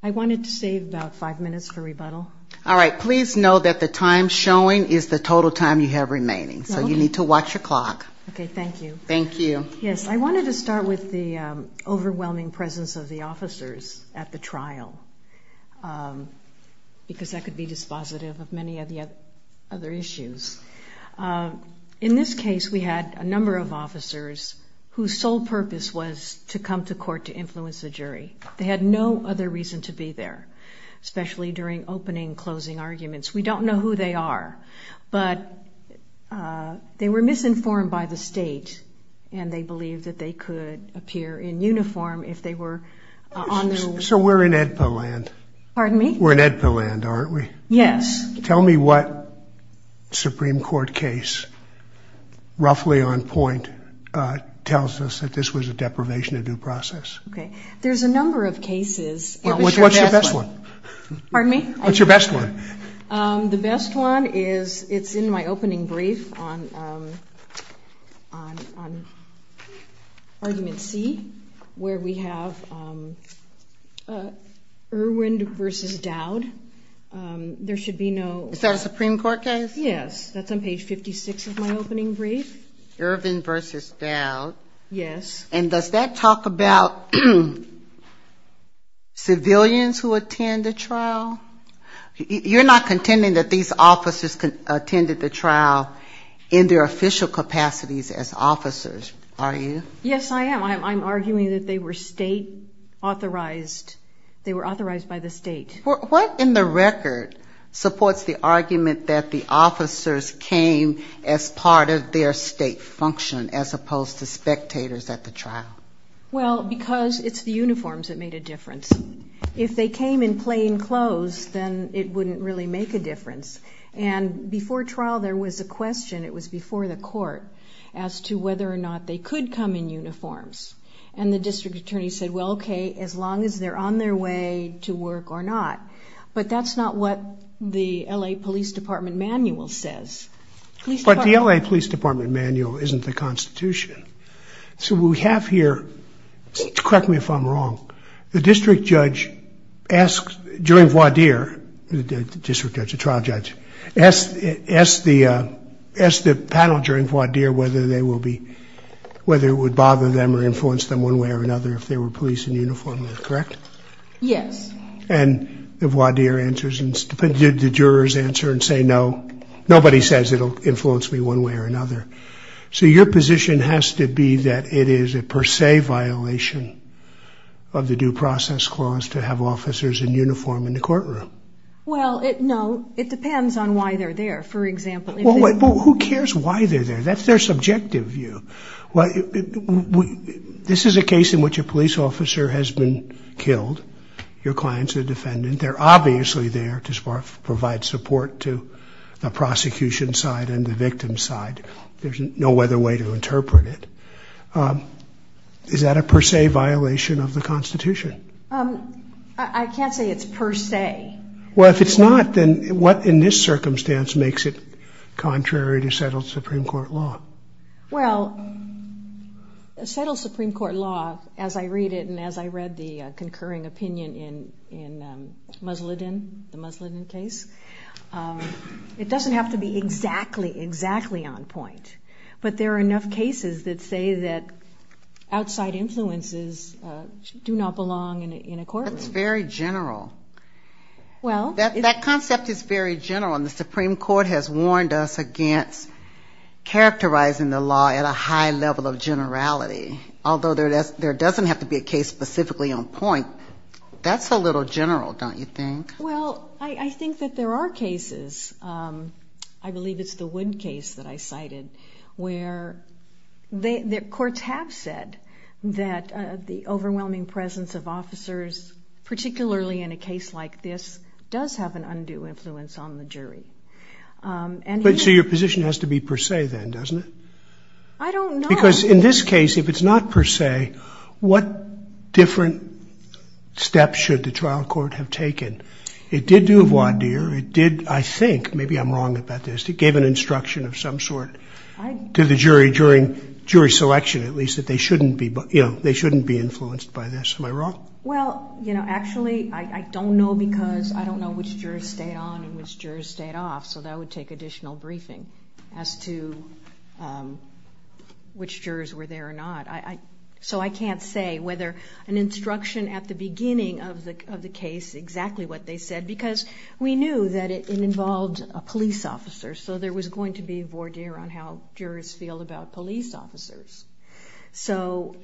I wanted to start with the overwhelming presence of the officers at the trial, because I could be dispositive of many of the other issues. In this case, we had a number of officers whose sole purpose was to come to court to influence the jury. They had no other reason to be there, especially during opening and closing arguments. We don't know who they are, but they were misinformed by the state, and they believed that they could appear in uniform if they were on their way. So we're in AEDPA land, aren't we? Yes. Tell me what Supreme Court case, roughly on point, tells us that this was a deprivation of due process. Okay. There's a number of cases. What's your best one? Pardon me? What's your best one? The best one is, it's in my opening brief on argument C, where we have Irwin v. Dowd. There should be no... Is that a Supreme Court case? Yes. That's on page 56 of my opening brief. Irwin v. Dowd. Yes. And does that talk about... civilians who attend the trial? You're not contending that these officers attended the trial in their official capacities as officers, are you? Yes, I am. I'm arguing that they were state authorized. They were authorized by the state. What in the record supports the argument that the officers came as part of their state function, as opposed to spectators at the trial? It's the uniforms that made a difference. If they came in plain clothes, then it wouldn't really make a difference. And before trial, there was a question, it was before the court, as to whether or not they could come in uniforms. And the district attorney said, well, okay, as long as they're on their way to work or not. But that's not what the L.A. Police Department manual says. But the L.A. Police Department manual isn't the Constitution. So what we have here, correct me if I'm wrong, the district judge asks, during voir dire, the district judge, the trial judge, asks the panel during voir dire whether it would bother them or influence them one way or another if they were policing uniformly, correct? Yes. And the voir dire answers, and the jurors answer and say no. Nobody says it will influence me one way or another. So your position has to be that it is a per se violation of the due process clause to have officers in uniform in the courtroom. Well, no. It depends on why they're there, for example. Who cares why they're there? That's their subjective view. This is a case in which a police officer has been killed. Your client's a defendant. They're obviously there to provide support to the prosecution side and the victim side. There's no other way to interpret it. Is that a per se violation of the Constitution? I can't say it's per se. Well, if it's not, then what in this circumstance makes it contrary to settled Supreme Court law? Well, settled Supreme Court law, as I read it and as I read the concurring opinion in Musladin, the Musladin case, it doesn't have to be exactly, exactly on point. But there are enough cases that say that outside influences do not belong in a courtroom. That concept is very general. And the Supreme Court has warned us against characterizing the law at a high level of generality. Although there doesn't have to be a case specifically on point, that's a little general, don't you think? Well, I think that there are cases, I believe it's the Wood case that I cited, where courts have said that the overwhelming presence of officers, particularly in a case like this, does have an undue influence on the jury. So your position has to be per se then, doesn't it? I don't know. Because in this case, if it's not per se, what different steps should the trial court have taken? It did do a voir dire. It did, I think, maybe I'm wrong about this, it gave an instruction of some sort to the jury during jury selection, at least, that they shouldn't be, you know, they shouldn't be influenced by this. Am I wrong? Well, you know, actually, I don't know because I don't know which jurors stayed on and which jurors stayed off, so that would take additional briefing as to which jurors were there or not. So I can't say whether an instruction at the beginning of the case, exactly what they said, because we knew that it involved a police officer, so there was going to be a voir dire on how jurors feel about police officers. So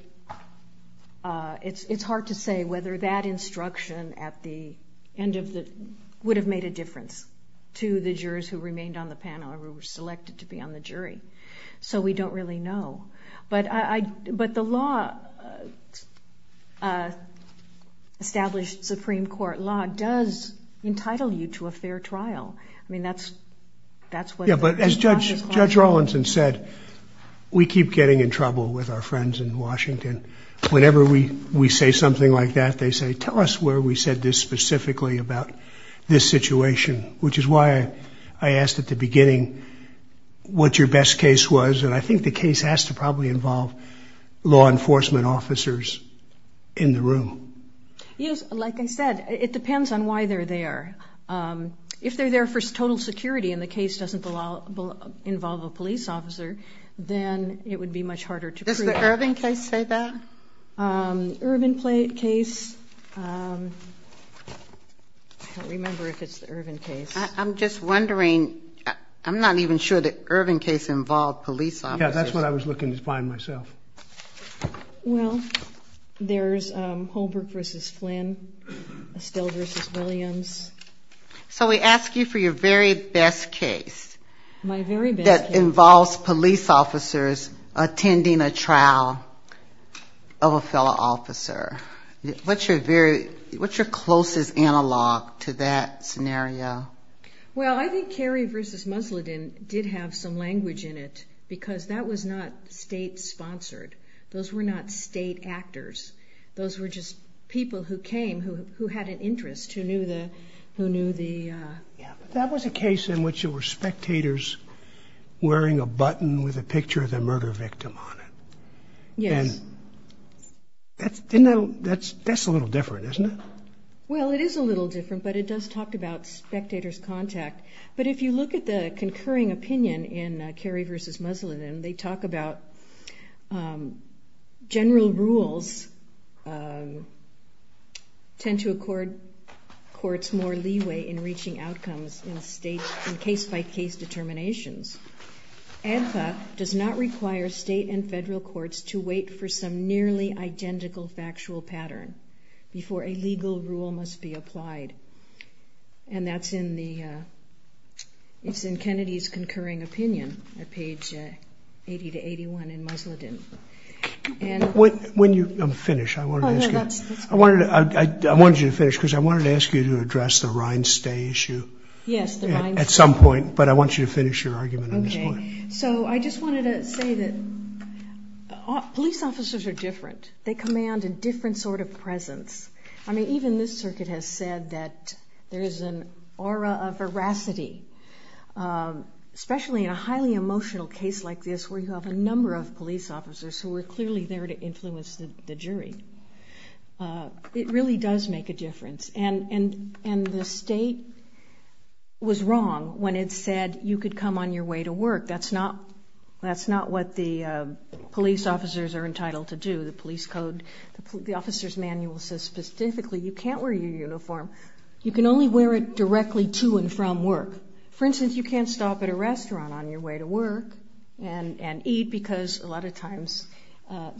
it's hard to say whether that instruction at the end of the, would have made a difference to the jurors who remained on the panel or who were selected to be on the jury. So we don't really know. But I, but the law, established Supreme Court law does entitle you to a fair trial. I mean, that's, that's what. As Judge, Judge Rawlinson said, we keep getting in trouble with our friends in Washington. Whenever we, we say something like that, they say, tell us where we said this specifically about this situation, which is why I asked at the beginning what your best case was, and I think the case has to probably involve law enforcement officers in the room. Yes. Like I said, it depends on why they're there. If they're there for total security and the case doesn't involve a police officer, then it would be much harder to prove. Does the Irvin case say that? Irvin case. I can't remember if it's the Irvin case. I'm just wondering, I'm not even sure that Irvin case involved police officers. Yeah, that's what I was looking to find myself. Well, there's Holbrook v. Flynn, Estelle v. Williams. So we ask you for your very best case. My very best case. That involves police officers attending a trial of a fellow officer. What's your very, what's your closest analog to that scenario? Well, I think Carey v. Musladin did have some language in it, because that was not state-sponsored. Those were not state actors. Those were just people who came, who had an interest, who knew the... That was a case in which there were spectators wearing a button with a picture of the murder victim on it. Yes. That's a little different, isn't it? Well, it is a little different, but it does talk about spectators' contact. But if you look at the concurring opinion in Carey v. Musladin, they talk about general rules tend to accord courts more leeway in reaching outcomes in case-by-case determinations. ADFA does not require state and federal courts to wait for some nearly identical factual pattern before a legal rule must be applied. And that's in the, it's in Kennedy's concurring opinion at page 80-81 in Musladin. And... When you finish, I wanted to ask you... Oh, no, that's... I wanted you to finish, because I wanted to ask you to address the Rhinestay issue... Yes, the Rhinestay... At some point, but I want you to finish your argument on this point. Okay. So I just wanted to say that police officers are different. They command a different sort of presence. I mean, even this circuit has said that there is an aura of veracity, especially in a highly emotional case like this where you have a number of police officers who are clearly there to influence the jury. It really does make a difference. And the state was wrong when it said you could come on your way to work. That's not what the police officers are entitled to do. The police code, the officer's manual says specifically you can't wear your uniform. You can only wear it directly to and from work. For instance, you can't stop at a restaurant on your way to work and eat, because a lot of times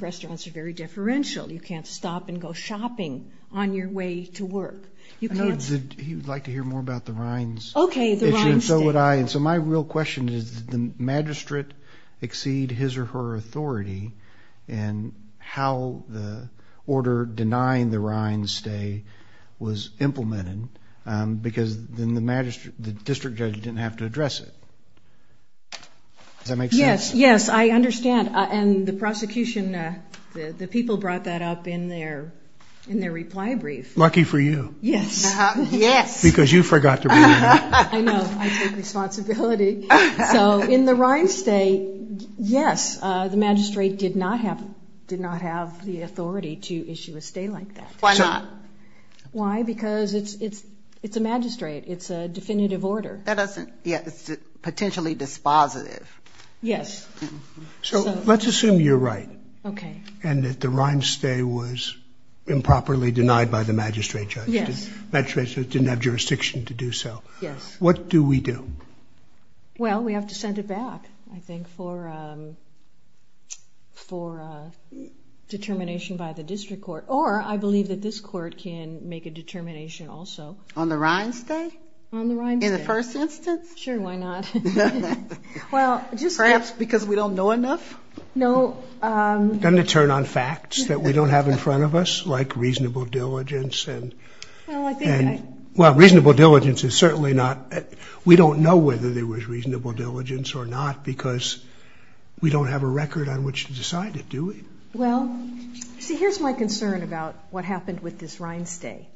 restaurants are very differential. You can't stop and go shopping on your way to work. You can't... He would like to hear more about the Rhinestay issue. Okay, the Rhinestay. And so would I. And so my real question is, did the magistrate exceed his or her authority in how the order denying the Rhinestay was implemented? Because then the district judge didn't have to address it. Does that make sense? Yes, yes. I understand. And the prosecution, the people brought that up in their reply brief. Lucky for you. Yes. Yes. Because you forgot to bring it up. I know. I take responsibility. So in the Rhinestay, yes, the magistrate did not have the authority to issue a stay like that. Why not? Why? Because it's a magistrate. It's a definitive order. It's potentially dispositive. Yes. So let's assume you're right. Okay. And that the Rhinestay was improperly denied by the magistrate judge. Yes. The magistrate judge didn't have jurisdiction to do so. Yes. What do we do? Well, we have to send it back, I think, for determination by the district court. Or I believe that this court can make a determination also. On the Rhinestay? On the Rhinestay. In the first instance? Sure, why not? Perhaps because we don't know enough? No. And to turn on facts that we don't have in front of us, like reasonable diligence. Well, reasonable diligence is certainly not. We don't know whether there was reasonable diligence or not because we don't have a record on which to decide it, do we? Well, see, here's my concern about what happened with this Rhinestay.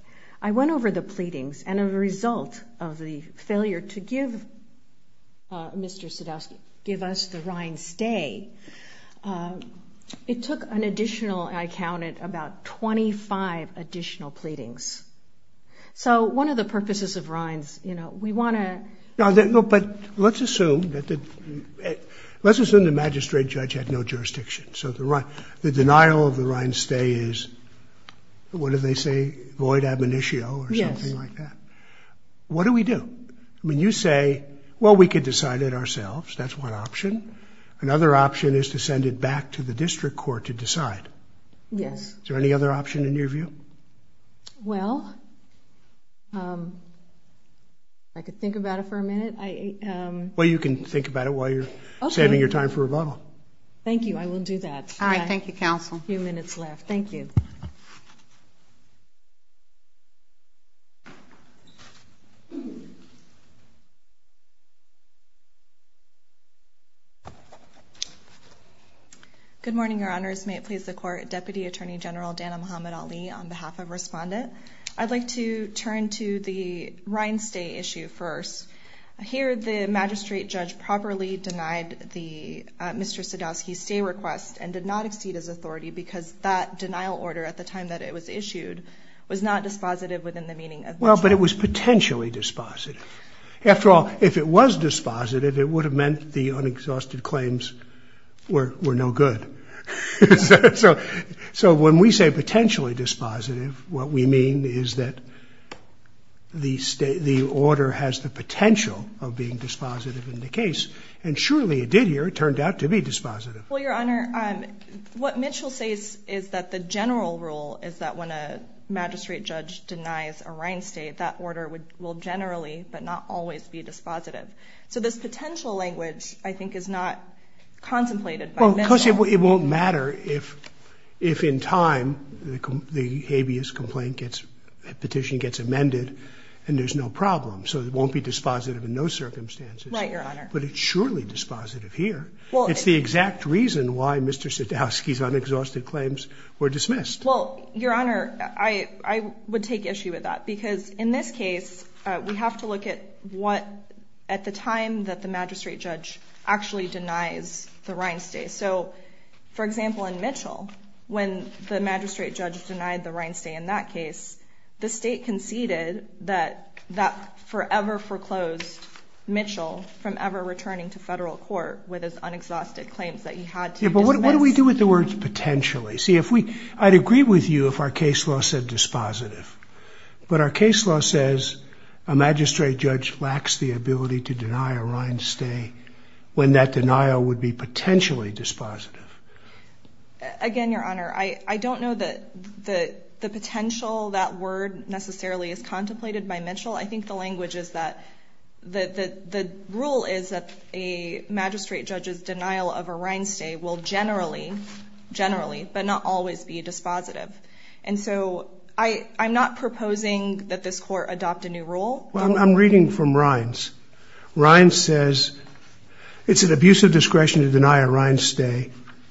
I went over the pleadings, and as a result of the failure to give Mr. Sadowski, give us the Rhinestay, it took an additional, I counted, about 25 additional pleadings. So one of the purposes of Rhines, you know, we want to – No, but let's assume that the – let's assume the magistrate judge had no jurisdiction. So the denial of the Rhinestay is, what do they say, void admonitio or something like that? Yes. What do we do? I mean, you say, well, we could decide it ourselves. That's one option. Another option is to send it back to the district court to decide. Yes. Is there any other option in your view? Well, I could think about it for a minute. Well, you can think about it while you're saving your time for rebuttal. Thank you. I will do that. All right. Thank you, counsel. A few minutes left. Thank you. Good morning, Your Honors. May it please the Court. Deputy Attorney General Dana Muhammad Ali on behalf of Respondent. I'd like to turn to the Rhinestay issue first. Here the magistrate judge properly denied Mr. Sadowski's stay request and did not exceed his authority because that denial order at the time that it was issued was not dispositive within the meaning of the statute. Well, but it was potentially dispositive. After all, if it was dispositive, it would have meant the unexhausted claims were no good. So when we say potentially dispositive, what we mean is that the order has the potential of being dispositive in the case, and surely it did here. It turned out to be dispositive. Well, Your Honor, what Mitchell says is that the general rule is that when a magistrate judge denies a Rhinestay, that order will generally but not always be dispositive. So this potential language, I think, is not contemplated by Mitchell. Because it won't matter if in time the habeas petition gets amended and there's no problem. So it won't be dispositive in those circumstances. Right, Your Honor. But it's surely dispositive here. It's the exact reason why Mr. Sadowski's unexhausted claims were dismissed. Well, Your Honor, I would take issue with that. Because in this case, we have to look at the time that the magistrate judge actually denies the Rhinestay. So, for example, in Mitchell, when the magistrate judge denied the Rhinestay in that case, the state conceded that that forever foreclosed Mitchell from ever returning to federal court with his unexhausted claims that he had to dismiss. Yeah, but what do we do with the words potentially? See, I'd agree with you if our case law said dispositive. But our case law says a magistrate judge lacks the ability to deny a Rhinestay when that denial would be potentially dispositive. Again, Your Honor, I don't know that the potential that word necessarily is contemplated by Mitchell. I think the language is that the rule is that a magistrate judge's denial of a Rhinestay will generally, generally, but not always be dispositive. And so I'm not proposing that this court adopt a new rule. I'm reading from Rhines. Rhines says it's an abuse of discretion to deny a Rhinestay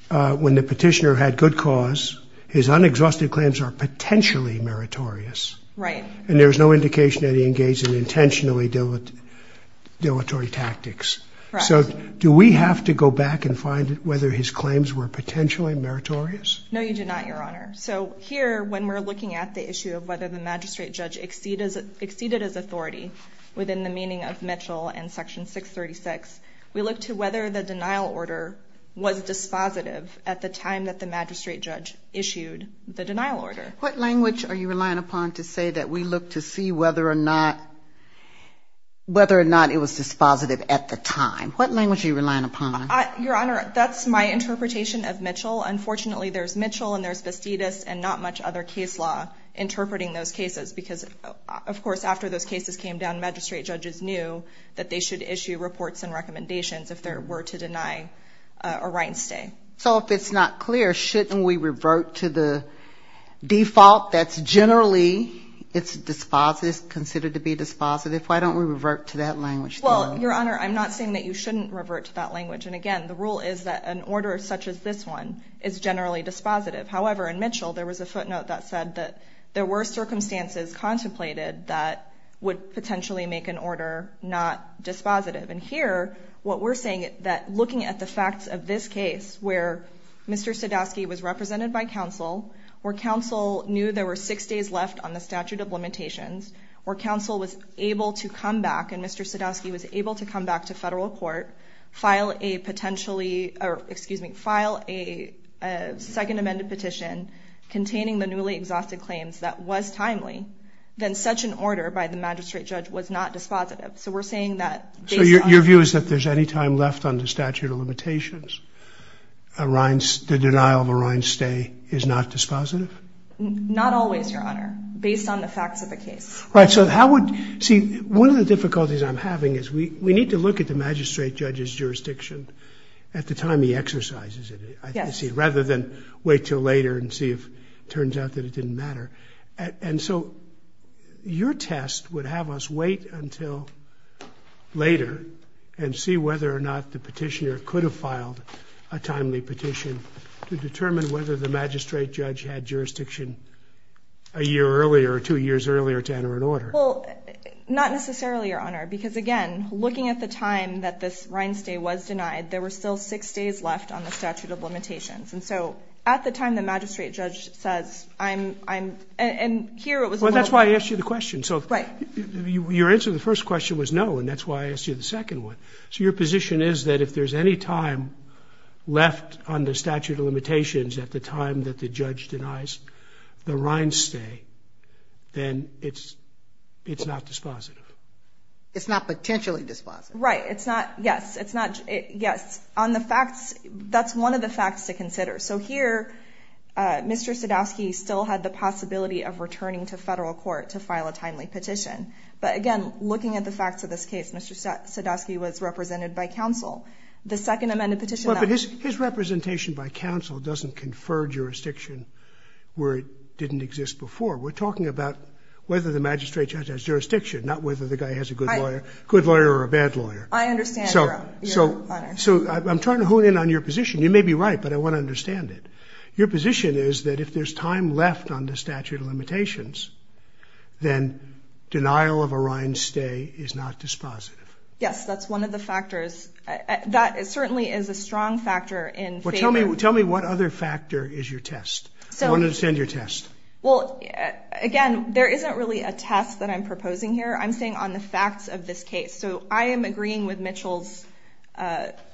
when the petitioner had good cause. His unexhausted claims are potentially meritorious. Right. And there's no indication that he engaged in intentionally dilatory tactics. Correct. So do we have to go back and find whether his claims were potentially meritorious? No, you do not, Your Honor. So here, when we're looking at the issue of whether the magistrate judge exceeded his authority within the meaning of Mitchell and Section 636, we look to whether the denial order was dispositive at the time that the magistrate judge issued the denial order. What language are you relying upon to say that we look to see whether or not it was dispositive at the time? What language are you relying upon? Well, unfortunately, there's Mitchell and there's Bastidas and not much other case law interpreting those cases because, of course, after those cases came down, magistrate judges knew that they should issue reports and recommendations if there were to deny a Rhinestay. So if it's not clear, shouldn't we revert to the default that's generally considered to be dispositive? Why don't we revert to that language? Well, Your Honor, I'm not saying that you shouldn't revert to that language. And, again, the rule is that an order such as this one is generally dispositive. However, in Mitchell, there was a footnote that said that there were circumstances contemplated that would potentially make an order not dispositive. And here, what we're saying is that looking at the facts of this case where Mr. Sadowski was represented by counsel, where counsel knew there were six days left on the statute of limitations, where counsel was able to come back and Mr. Sadowski was able to come back to federal court, file a second amended petition containing the newly exhausted claims that was timely, then such an order by the magistrate judge was not dispositive. So we're saying that based on... So your view is that if there's any time left on the statute of limitations, the denial of a Rhinestay is not dispositive? Not always, Your Honor, based on the facts of the case. Right. So how would... See, one of the difficulties I'm having is we need to look at the magistrate judge's jurisdiction at the time he exercises it. Yes. Rather than wait till later and see if it turns out that it didn't matter. And so your test would have us wait until later and see whether or not the petitioner could have filed a timely petition to determine whether the magistrate judge had jurisdiction a year earlier or two years earlier to enter an order. Well, not necessarily, Your Honor, because again, looking at the time that this Rhinestay was denied, there were still six days left on the statute of limitations. And so at the time the magistrate judge says, I'm... And here it was... Well, that's why I asked you the question. So... Right. Your answer to the first question was no, and that's why I asked you the second one. So your position is that if there's any time left on the statute of limitations at the time that the judge denies the Rhinestay, then it's not dispositive. It's not potentially dispositive. Right. It's not... Yes, it's not... Yes. On the facts, that's one of the facts to consider. So here, Mr. Sadowski still had the possibility of returning to federal court to file a timely petition. But again, looking at the facts of this case, Mr. Sadowski was represented by counsel. The second amended petition... Well, but his representation by counsel doesn't confer jurisdiction where it didn't exist before. We're talking about whether the magistrate judge has jurisdiction, not whether the guy has a good lawyer, good lawyer, or a bad lawyer. I understand, Your Honor. So I'm trying to hone in on your position. You may be right, but I want to understand it. Your position is that if there's time left on the statute of limitations, then denial of a Rhinestay is not dispositive. Yes, that's one of the factors. That certainly is a strong factor in favor... Well, tell me what other factor is your test. I want to understand your test. Well, again, there isn't really a test that I'm proposing here. I'm staying on the facts of this case. So I am agreeing with Mitchell's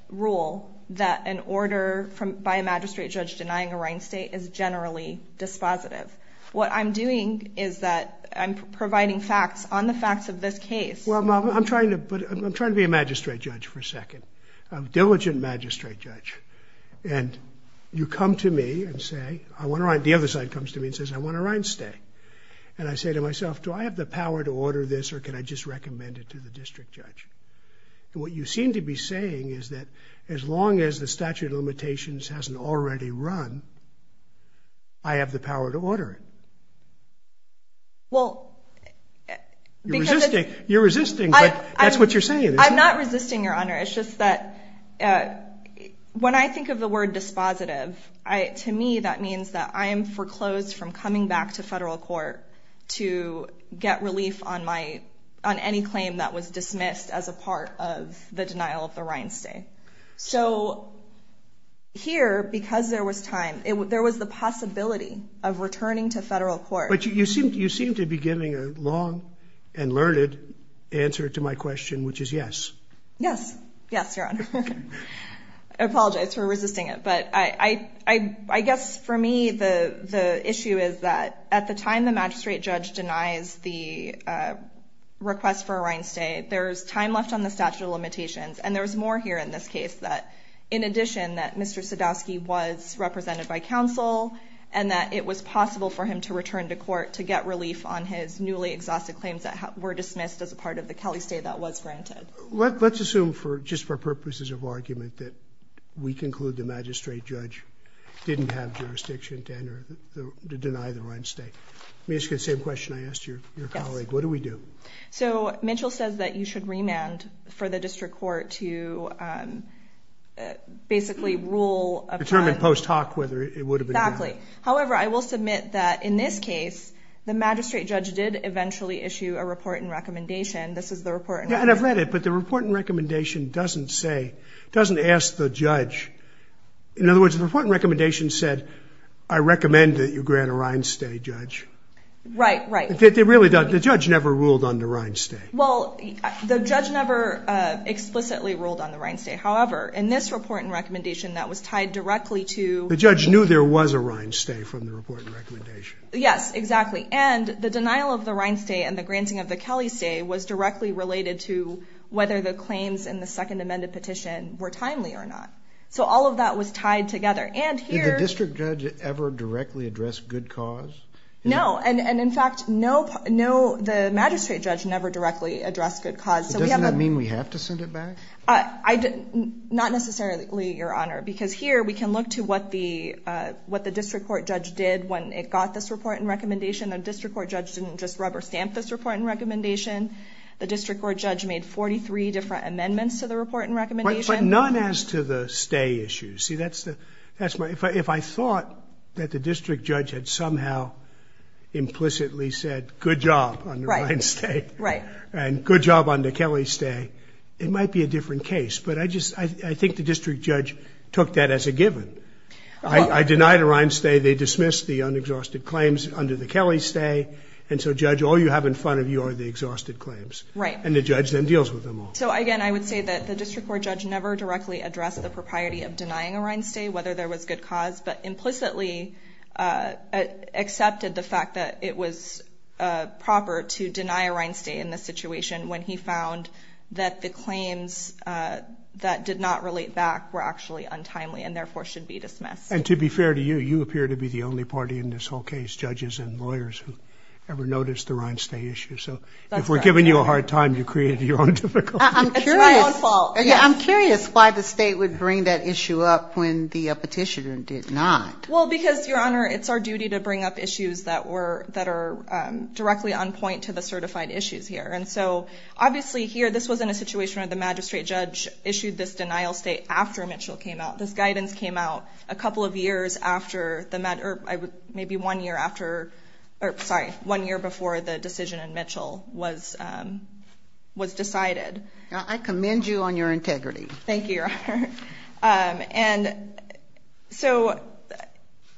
rule that an order by a magistrate judge denying a Rhinestay is generally dispositive. What I'm doing is that I'm providing facts on the facts of this case. Well, I'm trying to be a magistrate judge for a second, a diligent magistrate judge. And you come to me and say, the other side comes to me and says, I want a Rhinestay. And I say to myself, do I have the power to order this or can I just recommend it to the district judge? And what you seem to be saying is that as long as the statute of limitations hasn't already run, I have the power to order it. Well, because it's... You're resisting, but that's what you're saying, isn't it? I'm not resisting, Your Honor. It's just that when I think of the word dispositive, to me that means that I am foreclosed from coming back to federal court to get relief on any claim that was dismissed as a part of the denial of the Rhinestay. So here, because there was time, there was the possibility of returning to federal court. But you seem to be giving a long and learned answer to my question, which is yes. Yes, Your Honor. I apologize for resisting it. But I guess for me, the issue is that at the time the magistrate judge denies the request for a Rhinestay, there's time left on the statute of limitations. And there was more here in this case that in addition that Mr. Sadowski was represented by counsel and that it was possible for him to return to court to get relief on his newly exhausted claims that were dismissed as a part of the Kelly stay that was granted. Let's assume, just for purposes of argument, that we conclude the magistrate judge didn't have jurisdiction to deny the Rhinestay. The same question I asked your colleague. What do we do? So Mitchell says that you should remand for the district court to basically rule upon. Determine post hoc whether it would have been. Exactly. However, I will submit that in this case, the magistrate judge did eventually issue a report and recommendation. This is the report. And I've read it. But the report and recommendation doesn't say, doesn't ask the judge. In other words, the report and recommendation said, I recommend that you grant a Rhinestay, Judge. Right, right. It really does. The judge never ruled on the Rhinestay. Well, the judge never explicitly ruled on the Rhinestay. However, in this report and recommendation, that was tied directly to. The judge knew there was a Rhinestay from the report and recommendation. Yes, exactly. And the denial of the Rhinestay and the granting of the Kelley stay was directly related to whether the claims in the second amended petition were timely or not. So all of that was tied together. Did the district judge ever directly address good cause? No. And in fact, the magistrate judge never directly addressed good cause. Does that mean we have to send it back? Not necessarily, Your Honor. Because here we can look to what the district court judge did when it got this report and recommendation. The district court judge didn't just rubber stamp this report and recommendation. The district court judge made 43 different amendments to the report and recommendation. But none as to the stay issue. See, that's the. If I thought that the district judge had somehow implicitly said, good job on the Rhinestay. Right. And good job on the Kelley stay. It might be a different case. But I think the district judge took that as a given. I denied a Rhinestay. They dismissed the unexhausted claims under the Kelley stay. And so, Judge, all you have in front of you are the exhausted claims. Right. And the judge then deals with them all. So, again, I would say that the district court judge never directly addressed the propriety of denying a Rhinestay, whether there was good cause, but implicitly accepted the fact that it was proper to deny a Rhinestay in this situation when he found that the claims that did not relate back were actually untimely and therefore should be dismissed. And to be fair to you, you appear to be the only party in this whole case, judges and lawyers, who ever noticed the Rhinestay issue. So if we're giving you a hard time, you created your own difficulty. It's my own fault. Why not? Well, because, Your Honor, it's our duty to bring up issues that are directly on point to the certified issues here. And so, obviously, here, this was in a situation where the magistrate judge issued this denial state after Mitchell came out. This guidance came out a couple of years after the matter, or maybe one year after, or sorry, one year before the decision in Mitchell was decided. I commend you on your integrity. Thank you, Your Honor. And so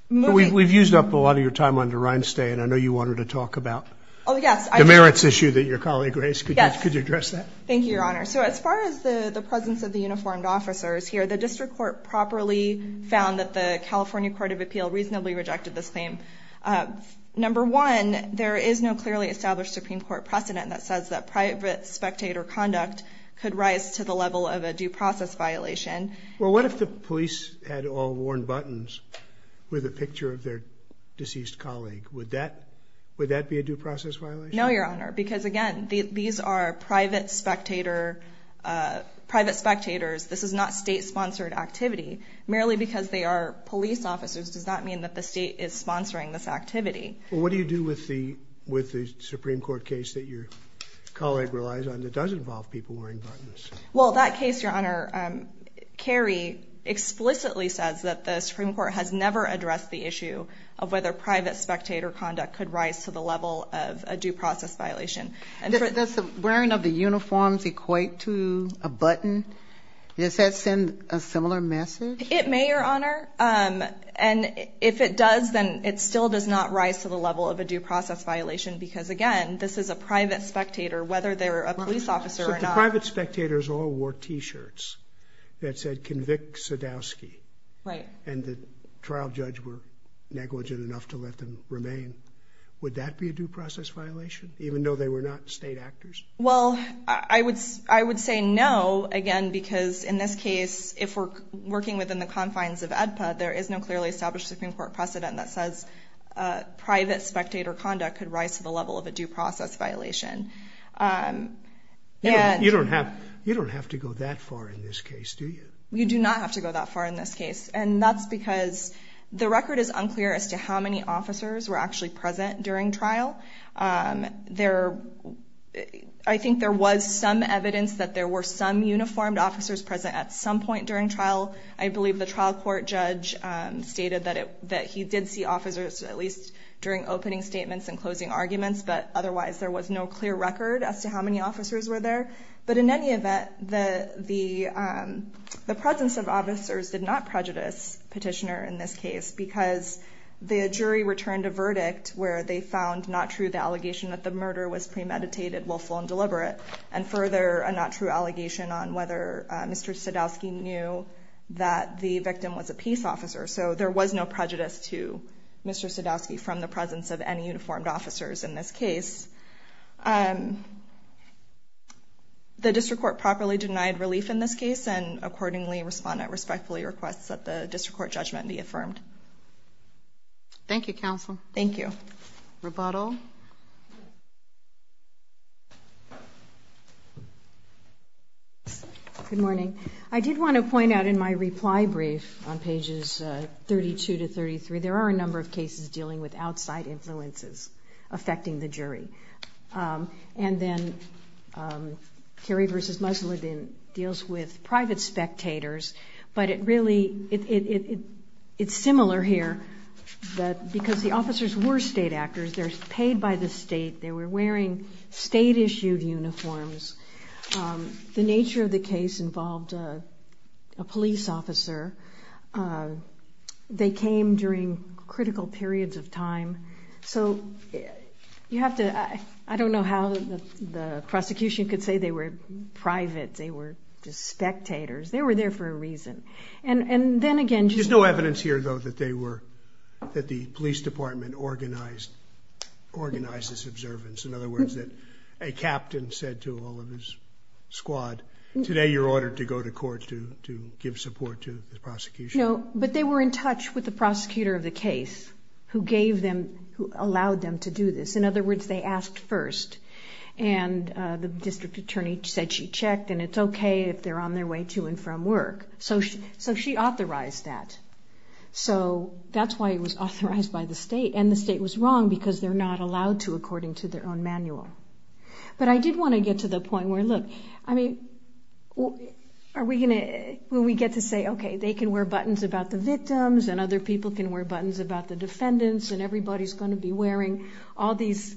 moving... We've used up a lot of your time on the Rhinestay, and I know you wanted to talk about... Oh, yes. ...the merits issue that your colleague raised. Yes. Could you address that? Thank you, Your Honor. So as far as the presence of the uniformed officers here, the district court properly found that the California Court of Appeal reasonably rejected this claim. Number one, there is no clearly established Supreme Court precedent that says that private spectator conduct could rise to the level of a due process violation. Well, what if the police had all worn buttons with a picture of their deceased colleague? Would that be a due process violation? No, Your Honor, because, again, these are private spectators. This is not state-sponsored activity. Merely because they are police officers does not mean that the state is sponsoring this activity. Well, what do you do with the Supreme Court case that your colleague relies on that does involve people wearing buttons? Well, that case, Your Honor, Carrie explicitly says that the Supreme Court has never addressed the issue of whether private spectator conduct could rise to the level of a due process violation. Does the wearing of the uniforms equate to a button? Does that send a similar message? It may, Your Honor. And if it does, then it still does not rise to the level of a due process violation because, again, this is a private spectator, whether they're a police officer or not. But the private spectators all wore T-shirts that said, Convict Sadowski. Right. And the trial judge were negligent enough to let them remain. Would that be a due process violation, even though they were not state actors? Well, I would say no, again, because in this case, if we're working within the confines of AEDPA, there is no clearly established Supreme Court precedent that says private spectator conduct could rise to the level of a due process violation. You don't have to go that far in this case, do you? You do not have to go that far in this case. And that's because the record is unclear as to how many officers were actually present during trial. I think there was some evidence that there were some uniformed officers present at some point during trial. I believe the trial court judge stated that he did see officers at least during opening statements and closing arguments. But otherwise, there was no clear record as to how many officers were there. But in any event, the presence of officers did not prejudice Petitioner in this case because the jury returned a verdict where they found not true the allegation that the murder was premeditated, willful, and deliberate, and further, a not true allegation on whether Mr. Sadowski knew that the victim was a peace officer. So there was no prejudice to Mr. Sadowski from the presence of any uniformed officers in this case. The district court properly denied relief in this case, and accordingly, Respondent respectfully requests that the district court judgment be affirmed. Thank you, counsel. Thank you. Rebuttal. Good morning. I did want to point out in my reply brief on pages 32 to 33, there are a number of cases dealing with outside influences affecting the jury. And then Kerry v. Musladin deals with private spectators. But it really, it's similar here that because the officers were state actors, they're paid by the state, they were wearing state-issued uniforms. The nature of the case involved a police officer. They came during critical periods of time. So you have to, I don't know how the prosecution could say they were private, they were just spectators. They were there for a reason. And then again, just... There's no evidence here, though, that they were, that the police department organized this observance. In other words, that a captain said to all of his squad, today you're ordered to go to court to give support to the prosecution. No, but they were in touch with the prosecutor of the case who gave them, who allowed them to do this. In other words, they asked first. And the district attorney said she checked, and it's okay if they're on their way to and from work. So she authorized that. So that's why it was authorized by the state. And the state was wrong, because they're not allowed to, according to their own manual. But I did want to get to the point where, look, I mean, are we going to... When we get to say, okay, they can wear buttons about the victims, and other people can wear buttons about the defendants, and everybody's going to be wearing all these,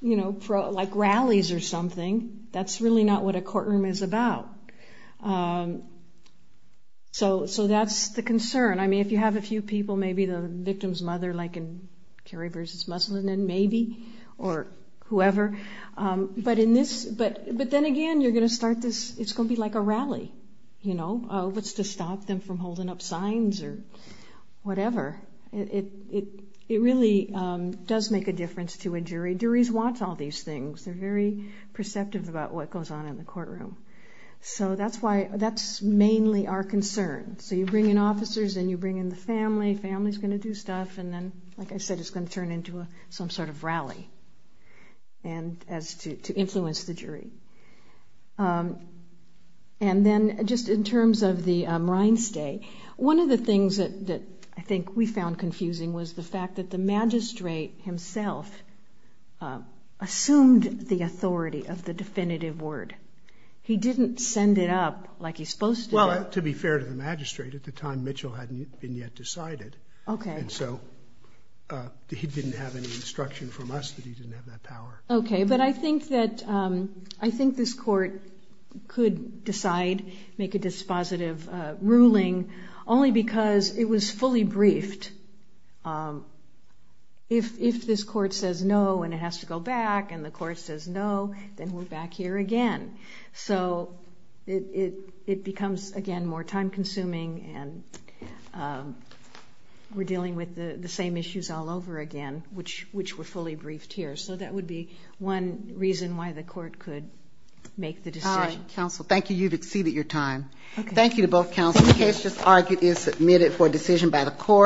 you know, like rallies or something, that's really not what a courtroom is about. So that's the concern. I mean, if you have a few people, maybe the victim's mother, like in Kerry v. Muslin, and maybe, or whoever. But then again, you're going to start this, it's going to be like a rally, you know, what's to stop them from holding up signs or whatever. It really does make a difference to a jury. Juries want all these things. They're very perceptive about what goes on in the courtroom. So that's why, that's mainly our concern. So you bring in officers, and you bring in the family, family's going to do stuff, and then, like I said, it's going to turn into some sort of rally to influence the jury. And then, just in terms of the reinstay, one of the things that I think we found confusing was the fact that the magistrate himself assumed the authority of the definitive word. He didn't send it up like he's supposed to. Well, to be fair to the magistrate, at the time, Mitchell hadn't been yet decided. And so he didn't have any instruction from us that he didn't have that power. Okay, but I think that, I think this court could decide, make a dispositive ruling, only because it was fully briefed. If this court says no, and it has to go back, and the court says no, then we're back here again. So it becomes, again, more time-consuming, and we're dealing with the same issues all over again, which were fully briefed here. So that would be one reason why the court could make the decision. Counsel, thank you. You've exceeded your time. Thank you to both counsels. This case is submitted for decision by the court.